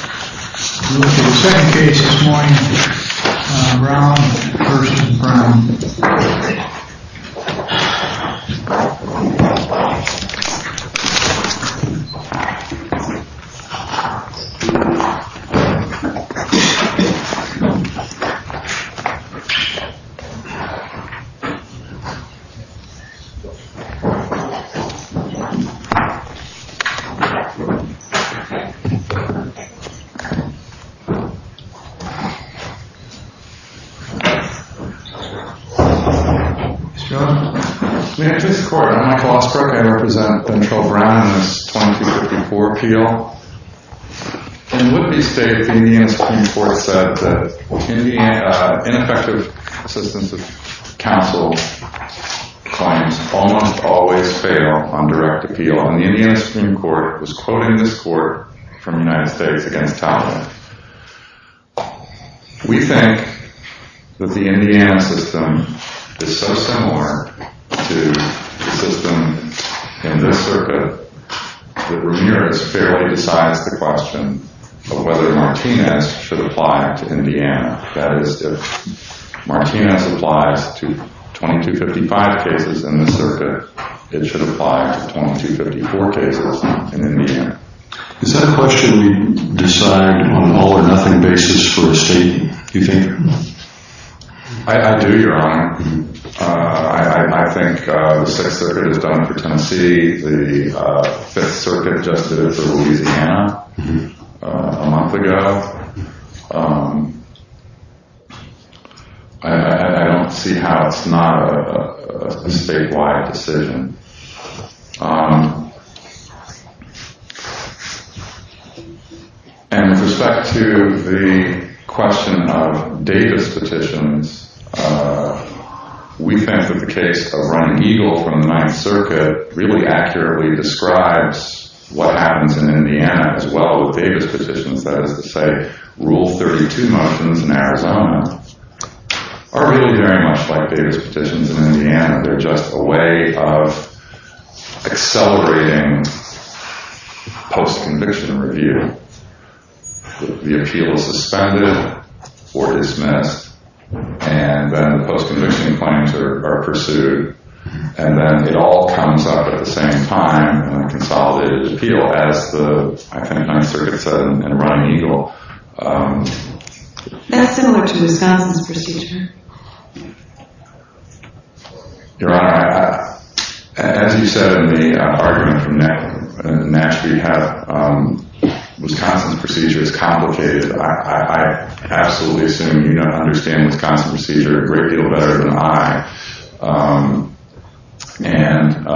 We're looking at the second case this morning, Brown v. Brown. This court, I'm Michael Osbrook, I represent Mitchell Brown in this 2254 appeal. In Whitby State, the Indiana Supreme Court said that ineffective assistance of counsel claims almost always fail on direct appeal and the Indiana Supreme Court was quoting this court from the United States against Talbot. We think that the Indiana system is so similar to the system in this circuit that Ramirez fairly decides the question of whether Martinez should apply to Indiana. That is, if Martinez applies to 2255 cases in this circuit, it should apply to 2254 cases in Indiana. Is that a question we decide on a all or nothing basis for a state? You think? I do, Your Honor. I think the Sixth Circuit has done it for Tennessee. The Fifth Circuit just did it for Louisiana a month ago. I don't see how it's not a statewide decision. And with respect to the question of Davis petitions, we think that the case of Ron Eagle from the Ninth Circuit really accurately describes what happens in Indiana as well with Davis petitions. That is to say, Rule 32 motions in Arizona are really very much like Davis petitions in Indiana. They're just a way of accelerating post-conviction review. The appeal is suspended or dismissed and then post-conviction claims are pursued and then it all comes up at the same time and consolidated appeal as the Ninth Circuit said in Ron Eagle. That's similar to Wisconsin's procedure. Your Honor, as you said in the argument from Nashville, you have Wisconsin's procedure is complicated. I absolutely assume you don't understand Wisconsin's procedure a great deal better than I. And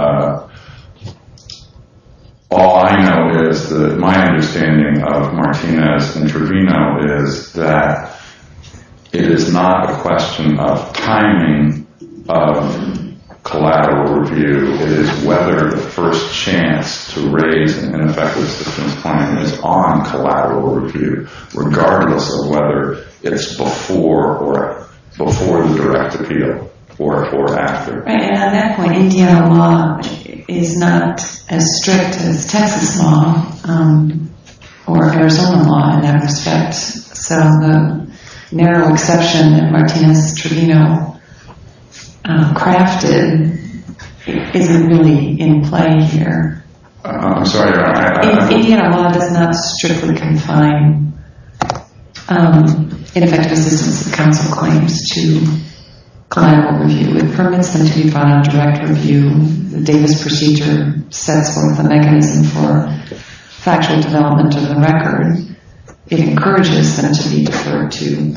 all I know is that my understanding of Martinez-Introvino is that it is not a question of timing of collateral review. It is whether the first chance to raise an ineffective assistance claim is on collateral review, regardless of whether it's before the direct appeal or after. Right. And on that point, Indiana law is not as strict as Texas law or Arizona law in that respect. So the narrow exception that Martinez-Introvino crafted isn't really in play here. I'm sorry. Indiana law does not strictly confine ineffective assistance of counsel claims to collateral review. It permits them to be brought on direct review. The Davis procedure sets forth a mechanism for factual development of the record. It encourages them to be deferred to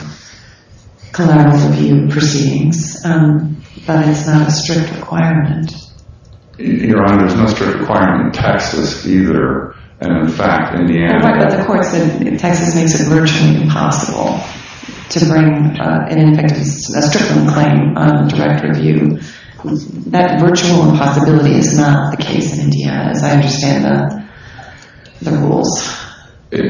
collateral review proceedings. But it's not a strict requirement. Your Honor, there's no strict requirement in Texas either. And in fact, Indiana... Right, but the court said Texas makes it virtually impossible to bring an ineffective assistance claim on direct review. That virtual impossibility is not the case in Indiana, as I understand the rules. It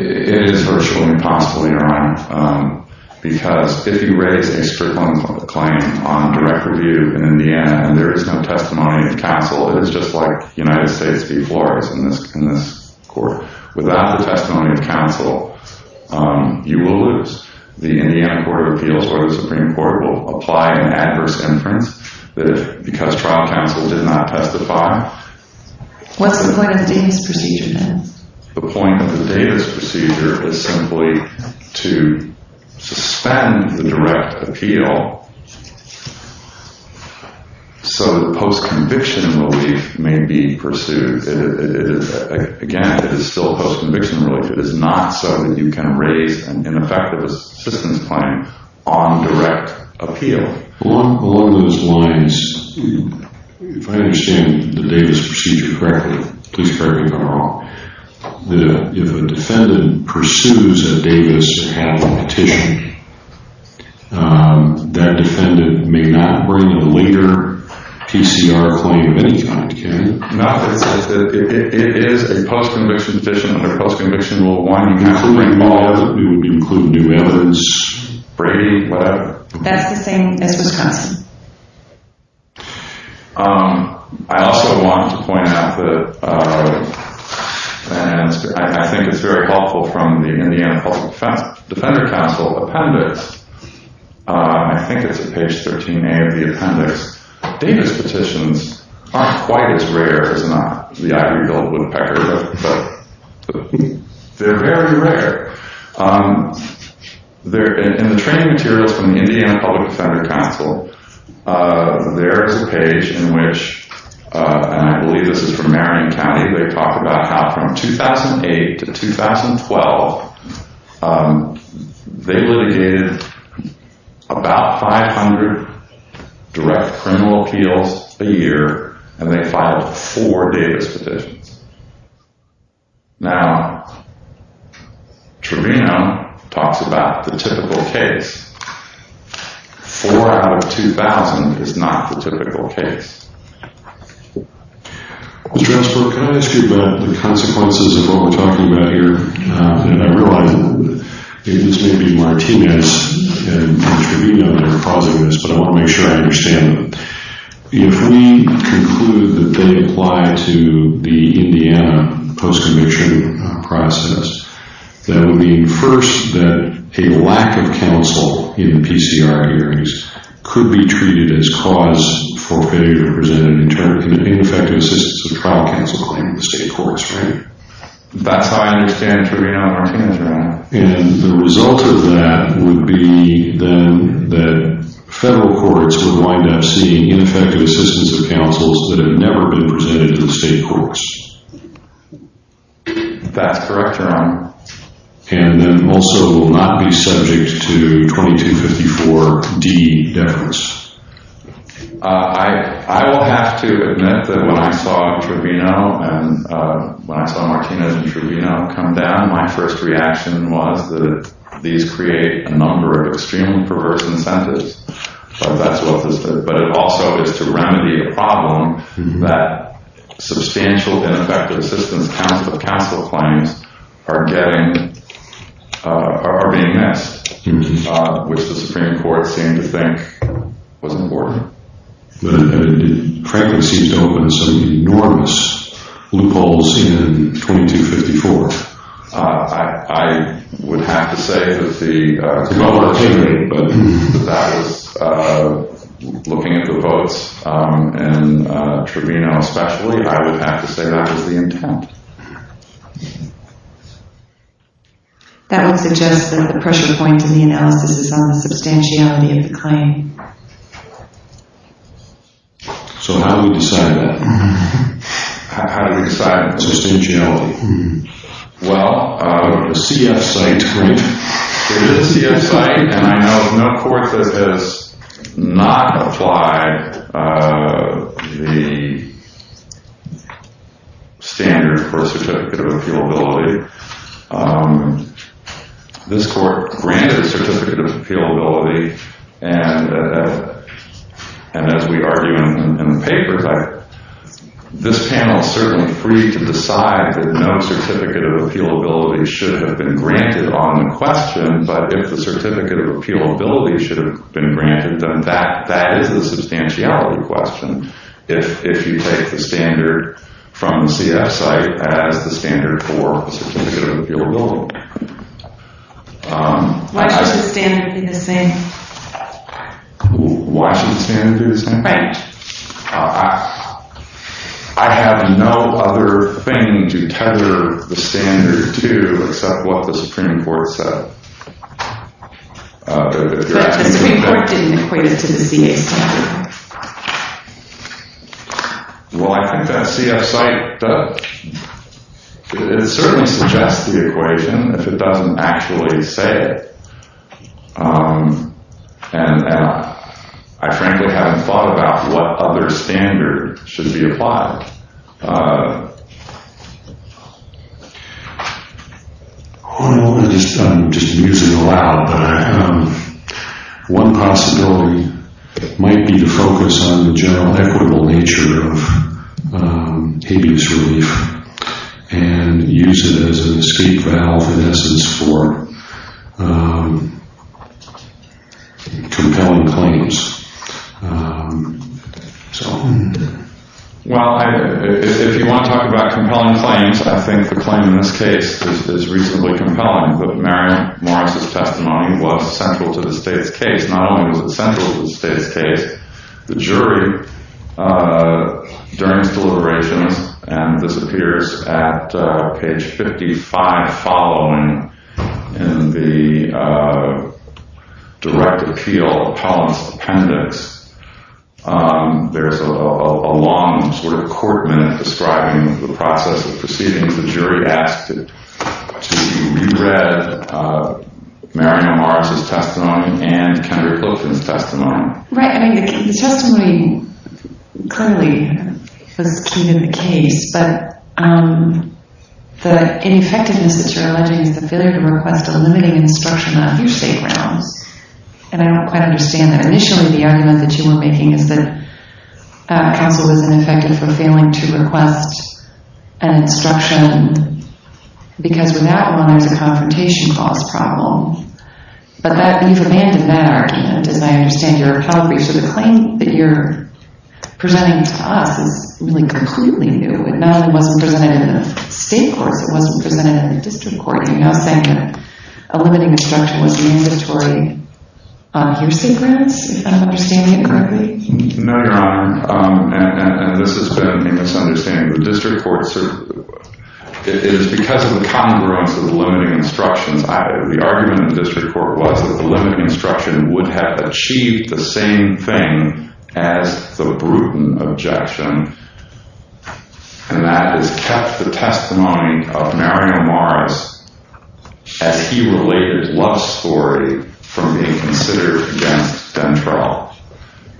is virtually impossible, Your Honor, because if you raise a strict claim on direct review in Indiana and there is no testimony of counsel, it is just like United States v. Flores in this court. Without the testimony of counsel, you will lose. The Indiana Court of Appeals or the Supreme Court will apply an adverse inference that if, because trial counsel did not testify... What's the point of the Davis procedure, then? The point of the Davis procedure is simply to suspend the direct appeal so that post-conviction relief may be pursued. Again, it is still post-conviction relief. It is not so that you can raise an ineffective assistance claim on direct appeal. Along those lines, if I understand the Davis procedure correctly, please correct me if I'm wrong. If a defendant pursues a Davis application, that defendant may not bring a later PCR claim of any kind, can they? It is a post-conviction petition. Under post-conviction law, we would include new evidence, Brady, whatever. That's the same as Wisconsin. I also want to point out that I think it's very helpful from the Indiana Public Defender Council appendix. I think it's at page 13A of the appendix. Davis petitions aren't quite as rare as the ivory-hilled woodpecker, but they're very rare. In the training materials from the Indiana Public Defender Council, there is a page in which, and I believe this is from Marion County, they talk about how from 2008 to 2012, they litigated about 500 direct criminal appeals a year, and they filed four Davis petitions. Now, Trevino talks about the typical case. Four out of 2,000 is not the typical case. Mr. Espel, can I ask you about the consequences of what we're talking about here? And I realize this may be Martinez and Trevino that are causing this, but I want to make sure I understand them. If we conclude that they apply to the Indiana post-conviction process, that would mean, first, that a lack of counsel in PCR hearings could be treated as cause for failure to present an ineffective assistance of trial counsel claim in the state courts, right? That's how I understand Trevino and Martinez, right? And the result of that would be then that federal courts would wind up seeing ineffective assistance of counsels that have never been presented in the state courts. That's correct, Your Honor. And then also will not be subject to 2254D deference. I will have to admit that when I saw Trevino and when I saw Martinez and Trevino come down, my first reaction was that these create a number of extremely perverse incentives, but that's what this is. But it also is to remedy a problem that substantial ineffective assistance of counsel claims are getting, are being missed, which the Supreme Court seemed to think was important. But it frankly seems to open some enormous loopholes in 2254. I would have to say that the... It's another argument, but that is, looking at the votes in Trevino especially, I would have to say that was the intent. That would suggest that the pressure point in the analysis is on the substantiality of the claim. So how do we decide that? How do we decide substantiality? Well, the CF site, right? It is the CF site, and I know of no court that has not applied the standard for certificate of appealability. This court granted certificate of appealability, and as we argue in the paper, this panel is certainly free to decide that no certificate of appealability should have been granted on the question. But if the certificate of appealability should have been granted, then that is the substantiality if you take the standard from the CF site as the standard for the certificate of appealability. Why should the standard be the same? Why should the standard be the same? Right. I have no other thing to tether the standard to except what the Supreme Court said. But the Supreme Court didn't equate it to the CF standard. Well, I think that CF site does. It certainly suggests the equation if it doesn't actually say it. And I frankly haven't thought about what other standard should be applied. I'm just using it aloud, but one possibility might be to focus on the general equitable nature of habeas relief and use it as an escape valve, in essence, for compelling claims. Well, if you want to talk about compelling claims, I think the claim in this case is reasonably compelling. But Marion Morris' testimony was central to the state's case. Not only was it central to the state's case, the jury, during its deliberations, and this There's a long sort of court minute describing the process of proceedings. The jury asked to re-read Marion Morris' testimony and Kendra Pilton's testimony. Right. The testimony clearly was key to the case. But the ineffectiveness that you're alleging is the failure to request a limiting instruction on a few state grounds. And I don't quite understand that. Initially, the argument that you were making is that counsel was ineffective for failing to request an instruction, because with that one, there's a confrontation cause problem. But you've abandoned that argument, as I understand your allegory. So the claim that you're presenting to us is really completely new. It not only wasn't presented in the state courts, it wasn't presented in the district courts. Are you now saying that a limiting instruction was mandatory on your state grounds, if I'm understanding it correctly? No, Your Honor. And this has been a misunderstanding. The district courts are, it is because of the congruence of the limiting instructions. The argument in the district court was that the limiting instruction would have achieved the same thing as the Bruton objection. And that has kept the testimony of Mario Morris, as he related Love's story, from being considered against Dentrell.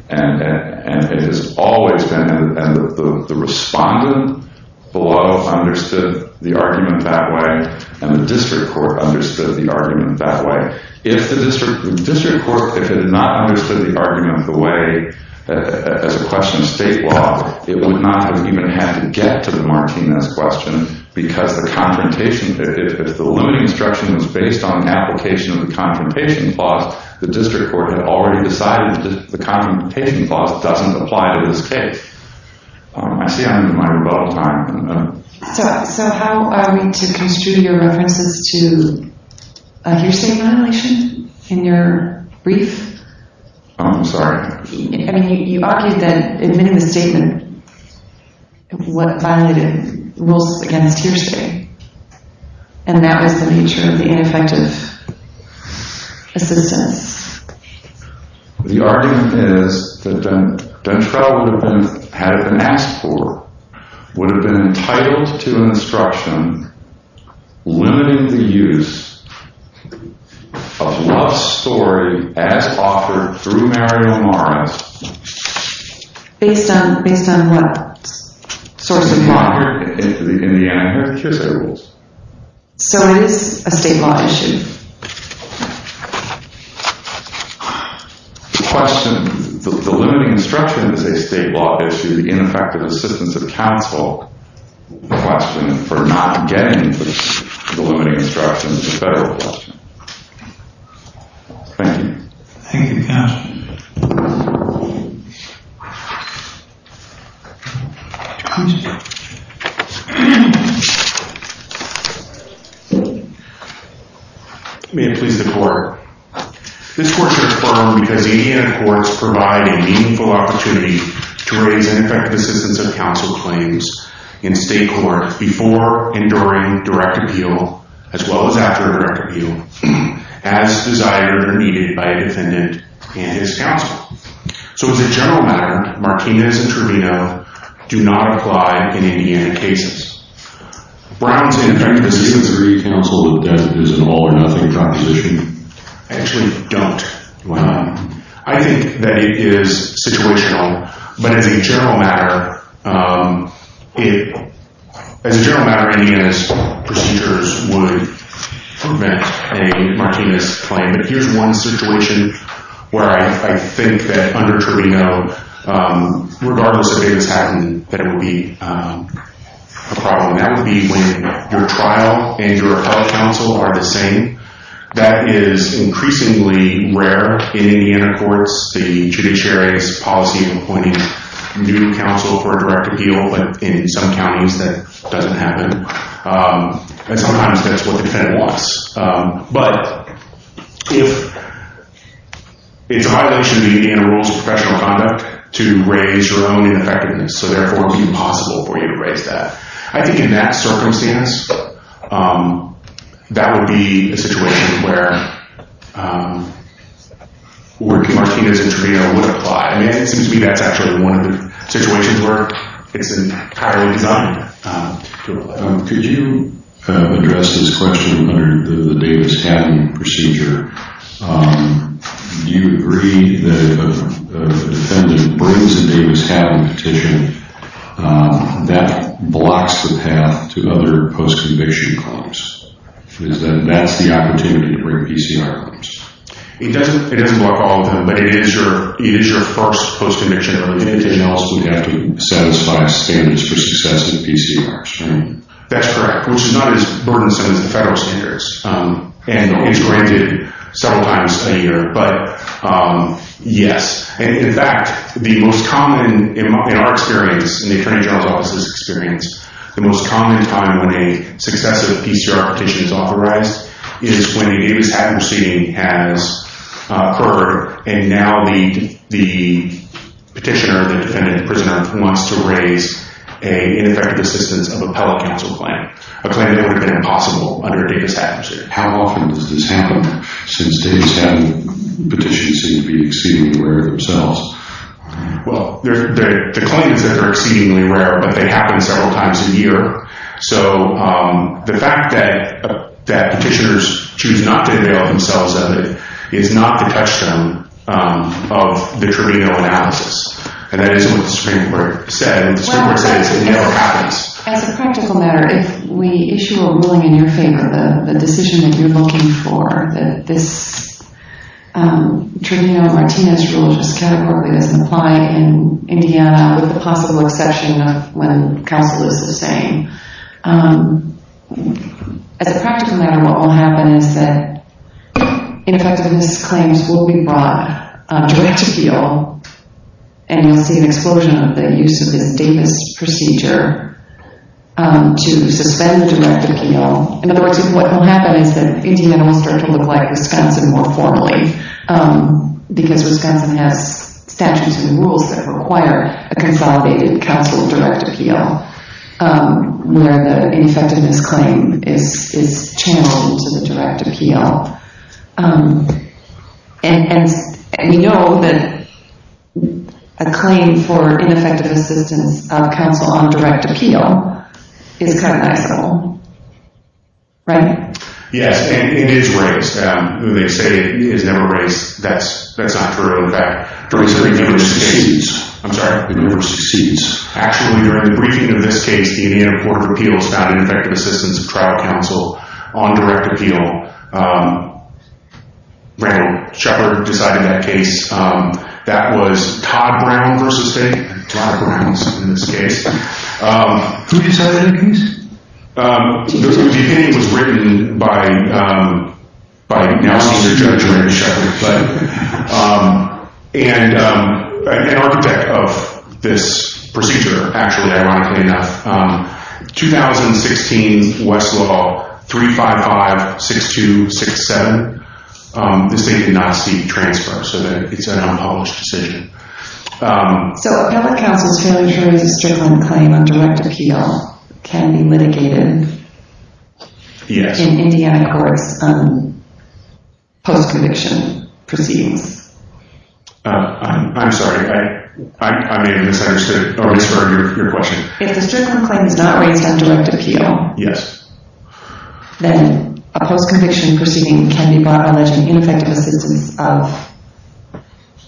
And it has always been, and the respondent below understood the argument that way, and the district court understood the argument that way. If the district court, if it had not understood the argument the way, as a question of state law, it would not have even had to get to the Martinez question because the confrontation, if the limiting instruction was based on application of the confrontation clause, the district court had already decided that the confrontation clause doesn't apply to this case. I see I'm in my rebuttal time. So how are we to construe your references to your state violation in your brief? I'm sorry? I mean, you argued that admitting the statement violated rules against your state, and that was the nature of the ineffective assistance. The argument is that Dentrell would have been, had it been asked for, would have been entitled to instruction limiting the use of Love's story as offered through Mario Mara's. Based on what? In Indiana, there are the Kearsay rules. So it is a state law issue. The question, the limiting instruction is a state law issue. The ineffective assistance of counsel, the question for not getting the limiting instruction is a federal question. Thank you. Thank you, counsel. May it please the court. This court should affirm because Indiana courts provide a meaningful opportunity to raise ineffective assistance of counsel claims in state court before and during direct appeal, as well as after direct appeal, as desired or needed by a defendant and his counsel. So as a general matter, Martinez and Trevino do not apply in Indiana cases. Brown's ineffective assistance of counsel is an all or nothing proposition. I actually don't. Why not? I think that it is situational. But as a general matter, as a general matter, Indiana's procedures would prevent a Martinez claim. But here's one situation where I think that under Trevino, regardless of if this happened, that it would be a problem. That would be when your trial and your appellate counsel are the same. That is increasingly rare in Indiana courts. The judiciary's policy of appointing new counsel for a direct appeal, but in some counties that doesn't happen. And sometimes that's what the defendant wants. But if it's a violation of the Indiana rules of professional conduct to raise your own ineffectiveness, so therefore it would be impossible for you to raise that. I think in that circumstance, that would be a situation where Martinez and Trevino would apply. It seems to me that's actually one of the situations where it's entirely designed. Could you address this question under the Davis-Hatton procedure? Do you agree that if a defendant brings a Davis-Hatton petition, that blocks the path to other post-conviction claims? That's the opportunity to bring PCR claims. It doesn't block all of them, but it is your first post-conviction. In addition, you also have to satisfy standards for success in PCRs, right? That's correct, which is not as burdensome as the federal standards. And it's granted several times a year, but yes. In fact, the most common, in our experience, in the Attorney General's Office's experience, the most common time when a successive PCR petition is authorized is when a Davis-Hatton proceeding has occurred, and now the petitioner, the defendant, the prisoner, wants to raise an ineffective assistance of appellate counsel claim, a claim that would have been impossible under a Davis-Hatton procedure. How often does this happen since Davis-Hatton petitions seem to be exceedingly rare themselves? Well, the claims that are exceedingly rare, but they happen several times a year. So the fact that petitioners choose not to avail themselves of it is not the touchstone of the tribunal analysis. And that isn't what the Supreme Court said. The Supreme Court said it's in the yellow packets. As a practical matter, if we issue a ruling in your favor, the decision that you're looking for, that this tribunal Martinez rule just categorically doesn't apply in Indiana with the possible exception of when counsel is the same. As a practical matter, what will happen is that ineffectiveness claims will be brought direct appeal, and you'll see an explosion of the use of this Davis procedure to suspend direct appeal. In other words, what will happen is that Indiana will start to look like Wisconsin more formally because Wisconsin has statutes and rules that require a consolidated counsel direct appeal, where the ineffectiveness claim is channeled to the direct appeal. And you know that a claim for ineffective assistance of counsel on direct appeal is kind of nice and all. Right? Yes, and it is race. When they say it's never race, that's not true. As a matter of fact, during the briefings of this case, the Indiana Court of Appeals found ineffective assistance of trial counsel on direct appeal. Randall Shepard decided that case. That was Todd Brown v. State. Todd Brown is in this case. Who decided that case? And an architect of this procedure, actually, ironically enough, 2016 Westlaw 355-6267, the state did not seek transfer, so it's an unpublished decision. So a public counsel's failure to raise a strickland claim on direct appeal can be litigated in Indiana courts post-conviction? I'm sorry. I may have misunderstood your question. If the strickland claim is not raised on direct appeal, then a post-conviction proceeding can be barred by alleged ineffective assistance of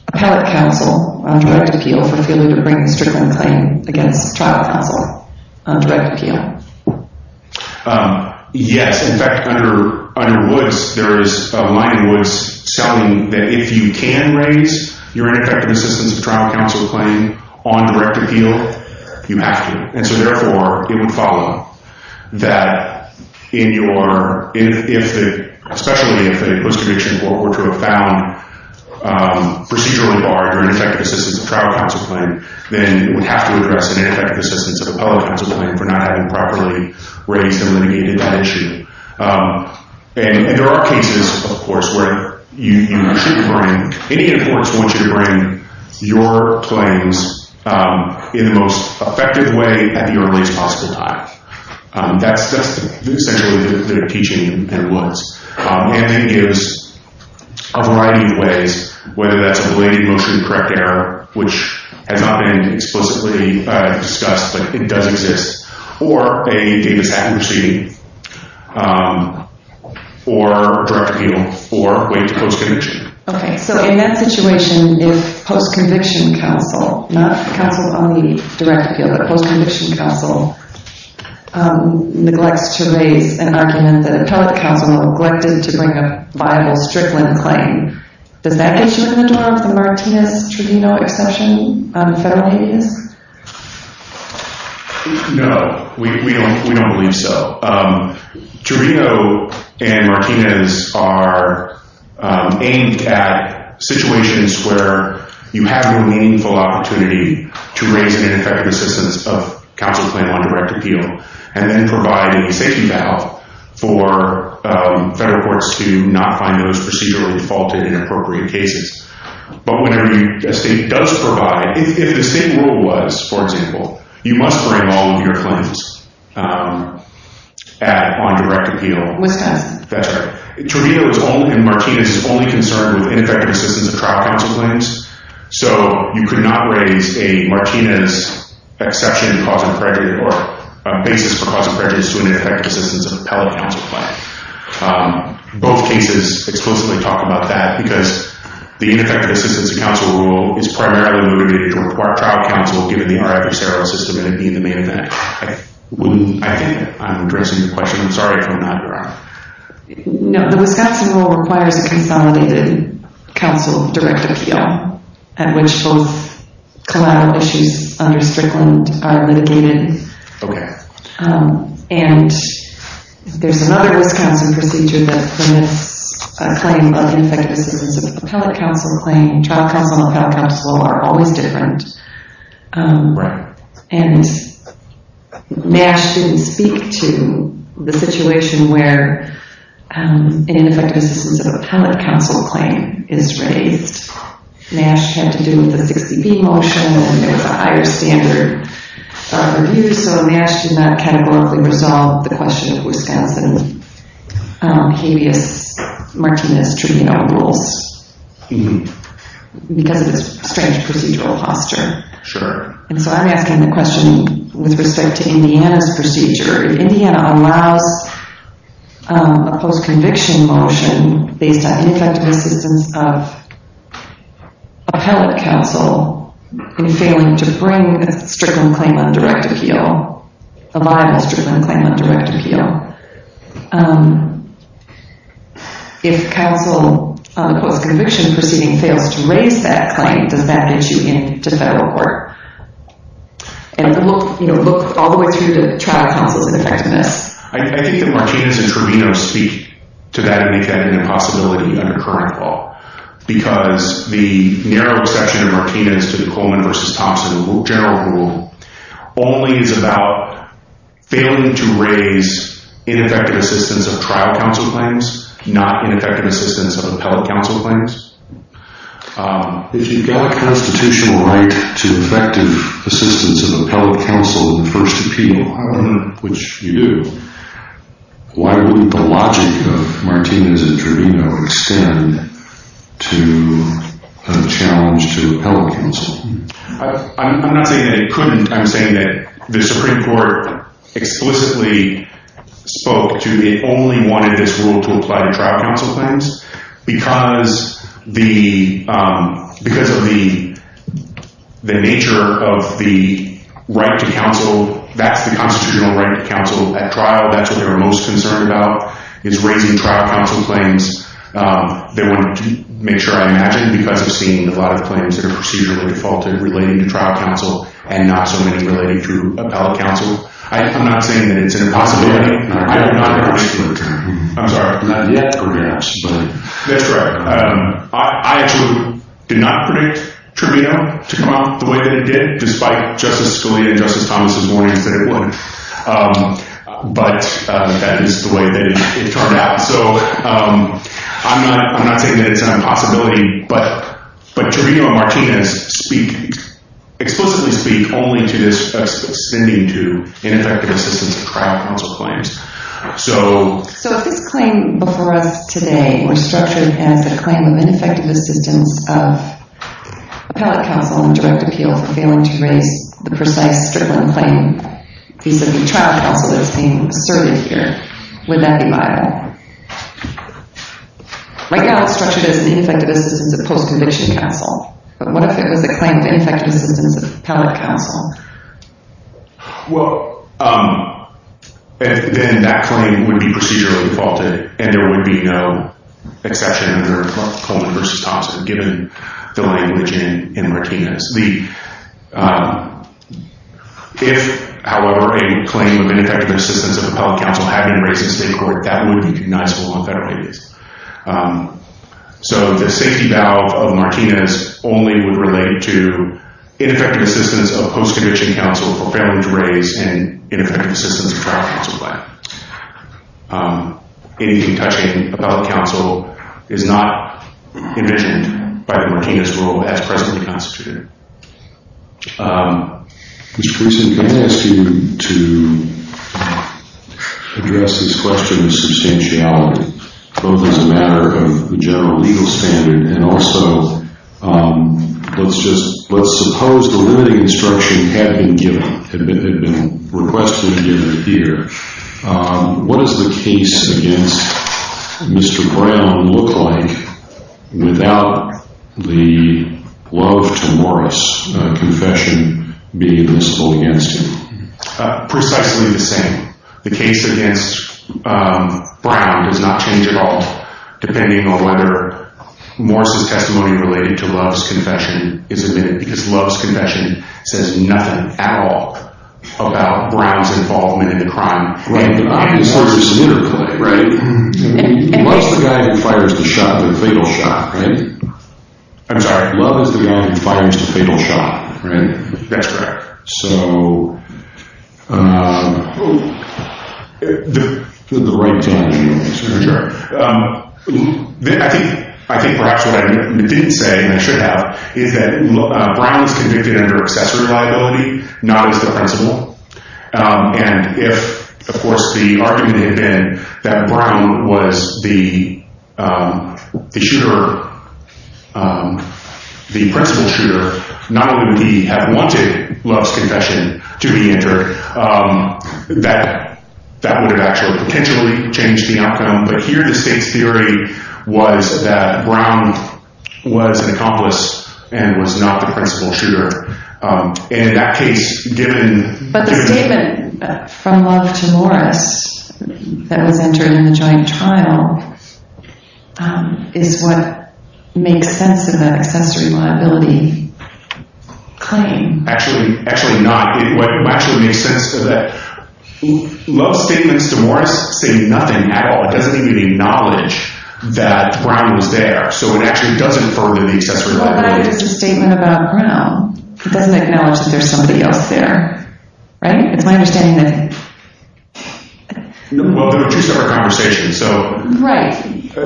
appellate counsel on direct appeal for failure to bring a strickland claim against trial counsel on direct appeal. Yes. In fact, under Woods, there is a line in Woods selling that if you can raise your ineffective assistance of trial counsel claim on direct appeal, you have to. And so therefore, it would follow that in your – especially if a post-conviction court were to have found procedurally barred your ineffective assistance of trial counsel claim, then it would have to address an ineffective assistance of appellate counsel claim for not having properly raised and litigated that issue. And there are cases, of course, where you actually bring – Indiana courts want you to bring your claims in the most effective way at the earliest possible time. That's essentially the teaching in Woods. And it gives a variety of ways, whether that's relating motion to correct error, which has not been explicitly discussed, but it does exist, or a mishap in proceeding, or direct appeal, or wait to post-conviction. Okay. So in that situation, if post-conviction counsel, not counsel on the direct appeal, but post-conviction counsel neglects to raise an argument that appellate counsel neglected to bring a viable strickland claim, does that get you in the door of the Martinez-Trevino exception on the federal case? No. We don't believe so. Trevino and Martinez are aimed at situations where you have a meaningful opportunity to raise an ineffective assistance of counsel claim on direct appeal, and then provide a safety valve for federal courts to not find those procedurally defaulted inappropriate cases. But whenever the state does provide, if the state rule was, for example, you must bring all of your claims on direct appeal. Which does? That's right. Trevino and Martinez is only concerned with ineffective assistance of trial counsel claims, so you could not raise a Martinez exception, cause of prejudice, or a basis for cause of prejudice to an ineffective assistance of appellate counsel claim. Both cases explicitly talk about that, because the ineffective assistance of counsel rule is primarily limited to a trial counsel, given the RFE-CRO system, and it being the main event. I'm addressing your question. I'm sorry if I'm not correct. No. The Wisconsin rule requires a consolidated counsel direct appeal, at which both collateral issues under strickland are litigated. Okay. And there's another Wisconsin procedure that permits a claim of ineffective assistance of appellate counsel claim. Trial counsel and appellate counsel are always different. Right. And MASH didn't speak to the situation where an ineffective assistance of appellate counsel claim is raised. MASH had to do with the 60B motion, and there's a higher standard of review, so MASH did not categorically resolve the question of Wisconsin habeas martinis treatment of rules, because of its strange procedural posture. Sure. And so I'm asking the question with respect to Indiana's procedure. If Indiana allows a post-conviction motion based on ineffective assistance of appellate counsel in failing to bring a strickland claim on direct appeal, a liable strickland claim on direct appeal, if counsel on the post-conviction proceeding fails to raise that claim, does that get you into federal court? And look all the way through to trial counsel's effectiveness. I think that martinis and tribunos speak to that and make that an impossibility under current law, because the narrow section of martinis to the Coleman versus Thompson general rule only is about failing to raise ineffective assistance of trial counsel claims, not ineffective assistance of appellate counsel claims. If you've got a constitutional right to effective assistance of appellate counsel in first appeal, which you do, why wouldn't the logic of martinis and tribuno extend to a challenge to appellate counsel? I'm not saying that it couldn't. I'm saying that the Supreme Court explicitly spoke to it only wanted this rule to apply to trial counsel claims. Because of the nature of the right to counsel, that's the constitutional right to counsel at trial. That's what they're most concerned about, is raising trial counsel claims. They want to make sure I imagine, because I've seen a lot of claims that are procedurally defaulted relating to trial counsel, and not so many relating to appellate counsel. I'm not saying that it's an impossibility. I do not agree with that. I'm sorry. Not yet. That's correct. I actually did not predict tribuno to come up the way that it did, despite Justice Scalia and Justice Thomas' warnings that it would. But that is the way that it turned out. So I'm not saying that it's an impossibility. But tribuno and martinis speak, explicitly speak, only to this ascending to ineffective assistance of trial counsel claims. So if this claim before us today was structured as a claim of ineffective assistance of appellate counsel in direct appeal for failing to raise the precise stripling claim vis-a-vis trial counsel that is being asserted here, would that be viable? Right now it's structured as an ineffective assistance of post-conviction counsel. But what if it was a claim of ineffective assistance of appellate counsel? Well, then that claim would be procedurally defaulted, and there would be no exception under Coleman v. Thomas given the language in martinis. If, however, a claim of ineffective assistance of appellate counsel had been raised in state court, that would be denial on federal basis. So the safety valve of martinis only would relate to ineffective assistance of post-conviction counsel for failing to raise and ineffective assistance of trial counsel claim. Anything touching appellate counsel is not envisioned by the martinis rule as presently constituted. Mr. Creason, can I ask you to address this question of substantiality, both as a matter of the general legal standard and also let's suppose the limiting instruction had been given, had been requested and given here, what does the case against Mr. Brown look like without the love to Morris confession being missable against him? Precisely the same. The case against Brown does not change at all, depending on whether Morris' testimony related to Love's confession is admitted, because Love's confession says nothing at all about Brown's involvement in the crime. Right. As far as his interplay, right, he loves the guy who fires the shot, the fatal shot, right? I'm sorry. Love is the guy who fires the fatal shot, right? That's correct. So the right time. Sure. I think perhaps what I didn't say and I should have is that Brown is convicted under accessory liability, not as the principal. And if, of course, the argument had been that Brown was the shooter, the principal shooter, not only would he have wanted Love's confession to be entered, that would have actually potentially changed the outcome. But here the state's theory was that Brown was an accomplice and was not the principal shooter. But the statement from Love to Morris that was entered in the joint trial is what makes sense of that accessory liability claim. Actually not. What actually makes sense is that Love's statements to Morris say nothing at all. It doesn't even acknowledge that Brown was there. So it actually does infer the accessory liability. But if it's a statement about Brown, it doesn't acknowledge that there's somebody else there. Right? It's my understanding that... Well, they're two separate conversations. Right.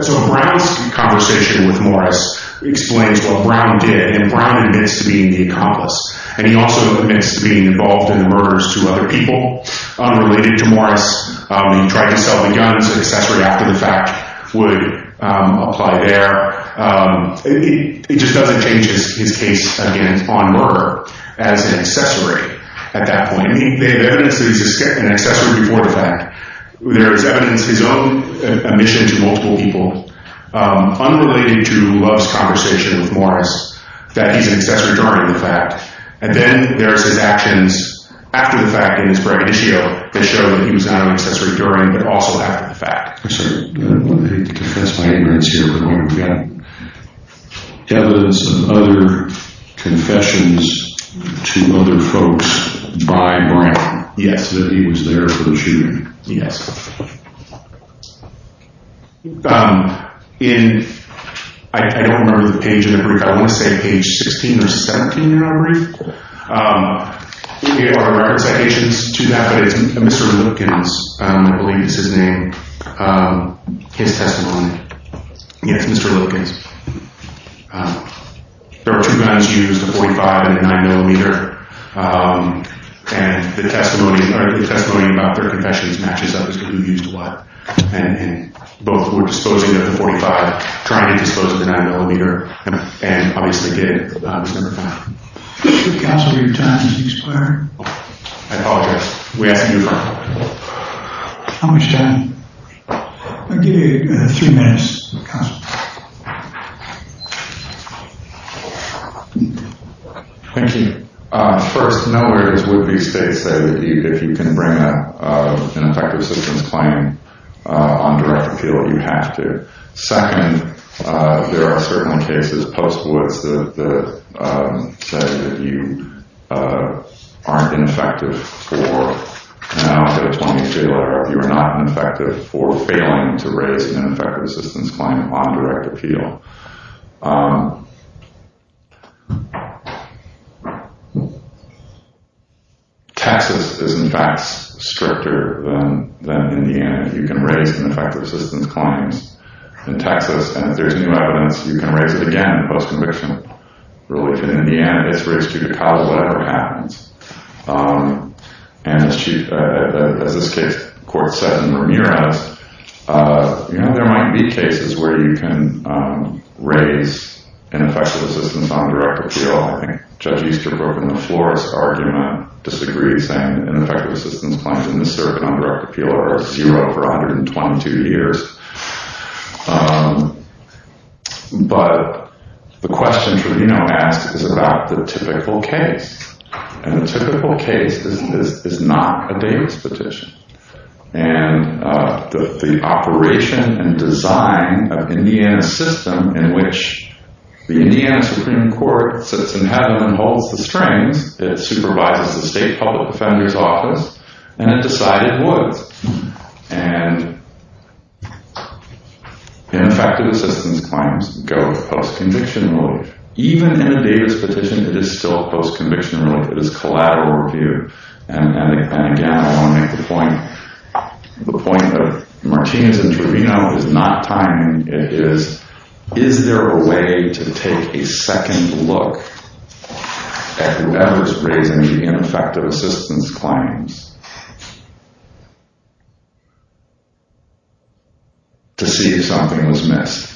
So Brown's conversation with Morris explains what Brown did. And Brown admits to being the accomplice. And he also admits to being involved in the murders to other people unrelated to Morris. He tried to sell the guns, an accessory after the fact would apply there. It just doesn't change his case, again, on murder as an accessory at that point. They have evidence that he's an accessory before the fact. There is evidence of his own admission to multiple people unrelated to Love's conversation with Morris that he's an accessory during the fact. And then there's his actions after the fact in his braggadocio that show that he was not an accessory during but also after the fact. I'm sorry. I hate to confess my ignorance here, but we've got evidence of other confessions to other folks by Brown. Yes, that he was there for the shooting. Yes. In... I don't remember the page in the brief. I want to say page 16 or 17 in our brief. We have our record citations to that, but it's Mr. Lillikins. I believe it's his name, his testimony. Yes, Mr. Lillikins. There were two guns used, a .45 and a 9mm. And the testimony about their confessions matches up as to who used what. And both were disposing of the .45, trying to dispose of the 9mm, and obviously gave the .45. Counsel, your time has expired. I apologize. We asked you to talk. How much time? I'll give you three minutes, counsel. Thank you. First, nowhere does Whitney State say that if you can bring up an effective citizen's claim on direct appeal, you have to. Second, there are certainly cases post-Woods that say that you aren't ineffective for an out-of-town failure. You are not effective for failing to raise an effective citizen's claim on direct appeal. Texas is, in fact, stricter than Indiana. You can raise an effective citizen's claim in Texas, and if there's new evidence, you can raise it again post-conviction. In Indiana, it's raised due to cause, whatever happens. And as this case court said in Ramirez, you know, there might be cases where you can raise an effective citizen's on direct appeal. I think Judge Easterbrook in the Flores argument disagrees, saying an But the question Trudino asks is about the typical case, and the typical case is not a Davis petition. And the operation and design of Indiana's system in which the Indiana Supreme Court sits in heaven and holds the strings, it supervises the state public defender's office, and it decided Woods. And ineffective assistance claims go post-conviction relief. Even in a Davis petition, it is still post-conviction relief. It is collateral review. And again, I want to make the point, the point of Martinez and Trudino is not timing. It is, is there a way to take a second look at whoever's raising the ineffective assistance claims? To see if something was missed.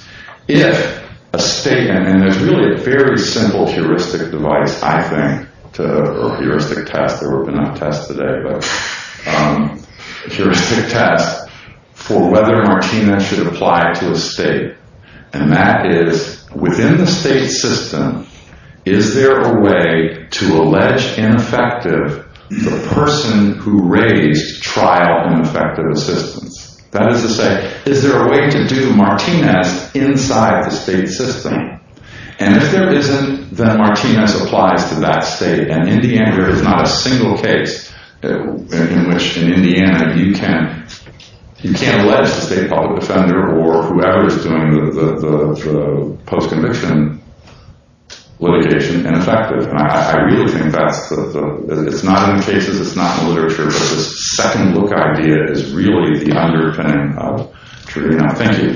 If a state, and there's really a very simple heuristic device, I think, or heuristic test, not test today, but heuristic test, for whether Martinez should apply to a state. And that is, within the state system, is there a way to allege ineffective the person who raised trial ineffective assistance? That is to say, is there a way to do Martinez inside the state system? And if there isn't, then Martinez applies to that state. And Indiana, there is not a single case in which in Indiana you can't, you can't allege the state public defender or whoever's doing the post-conviction litigation ineffective. And I really think that's the, it's not in cases, it's not in literature, but this second look idea is really the underpinning of Trudino. Thank you.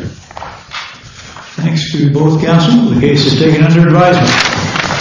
Thanks to both counsel. The case is taken under advisement.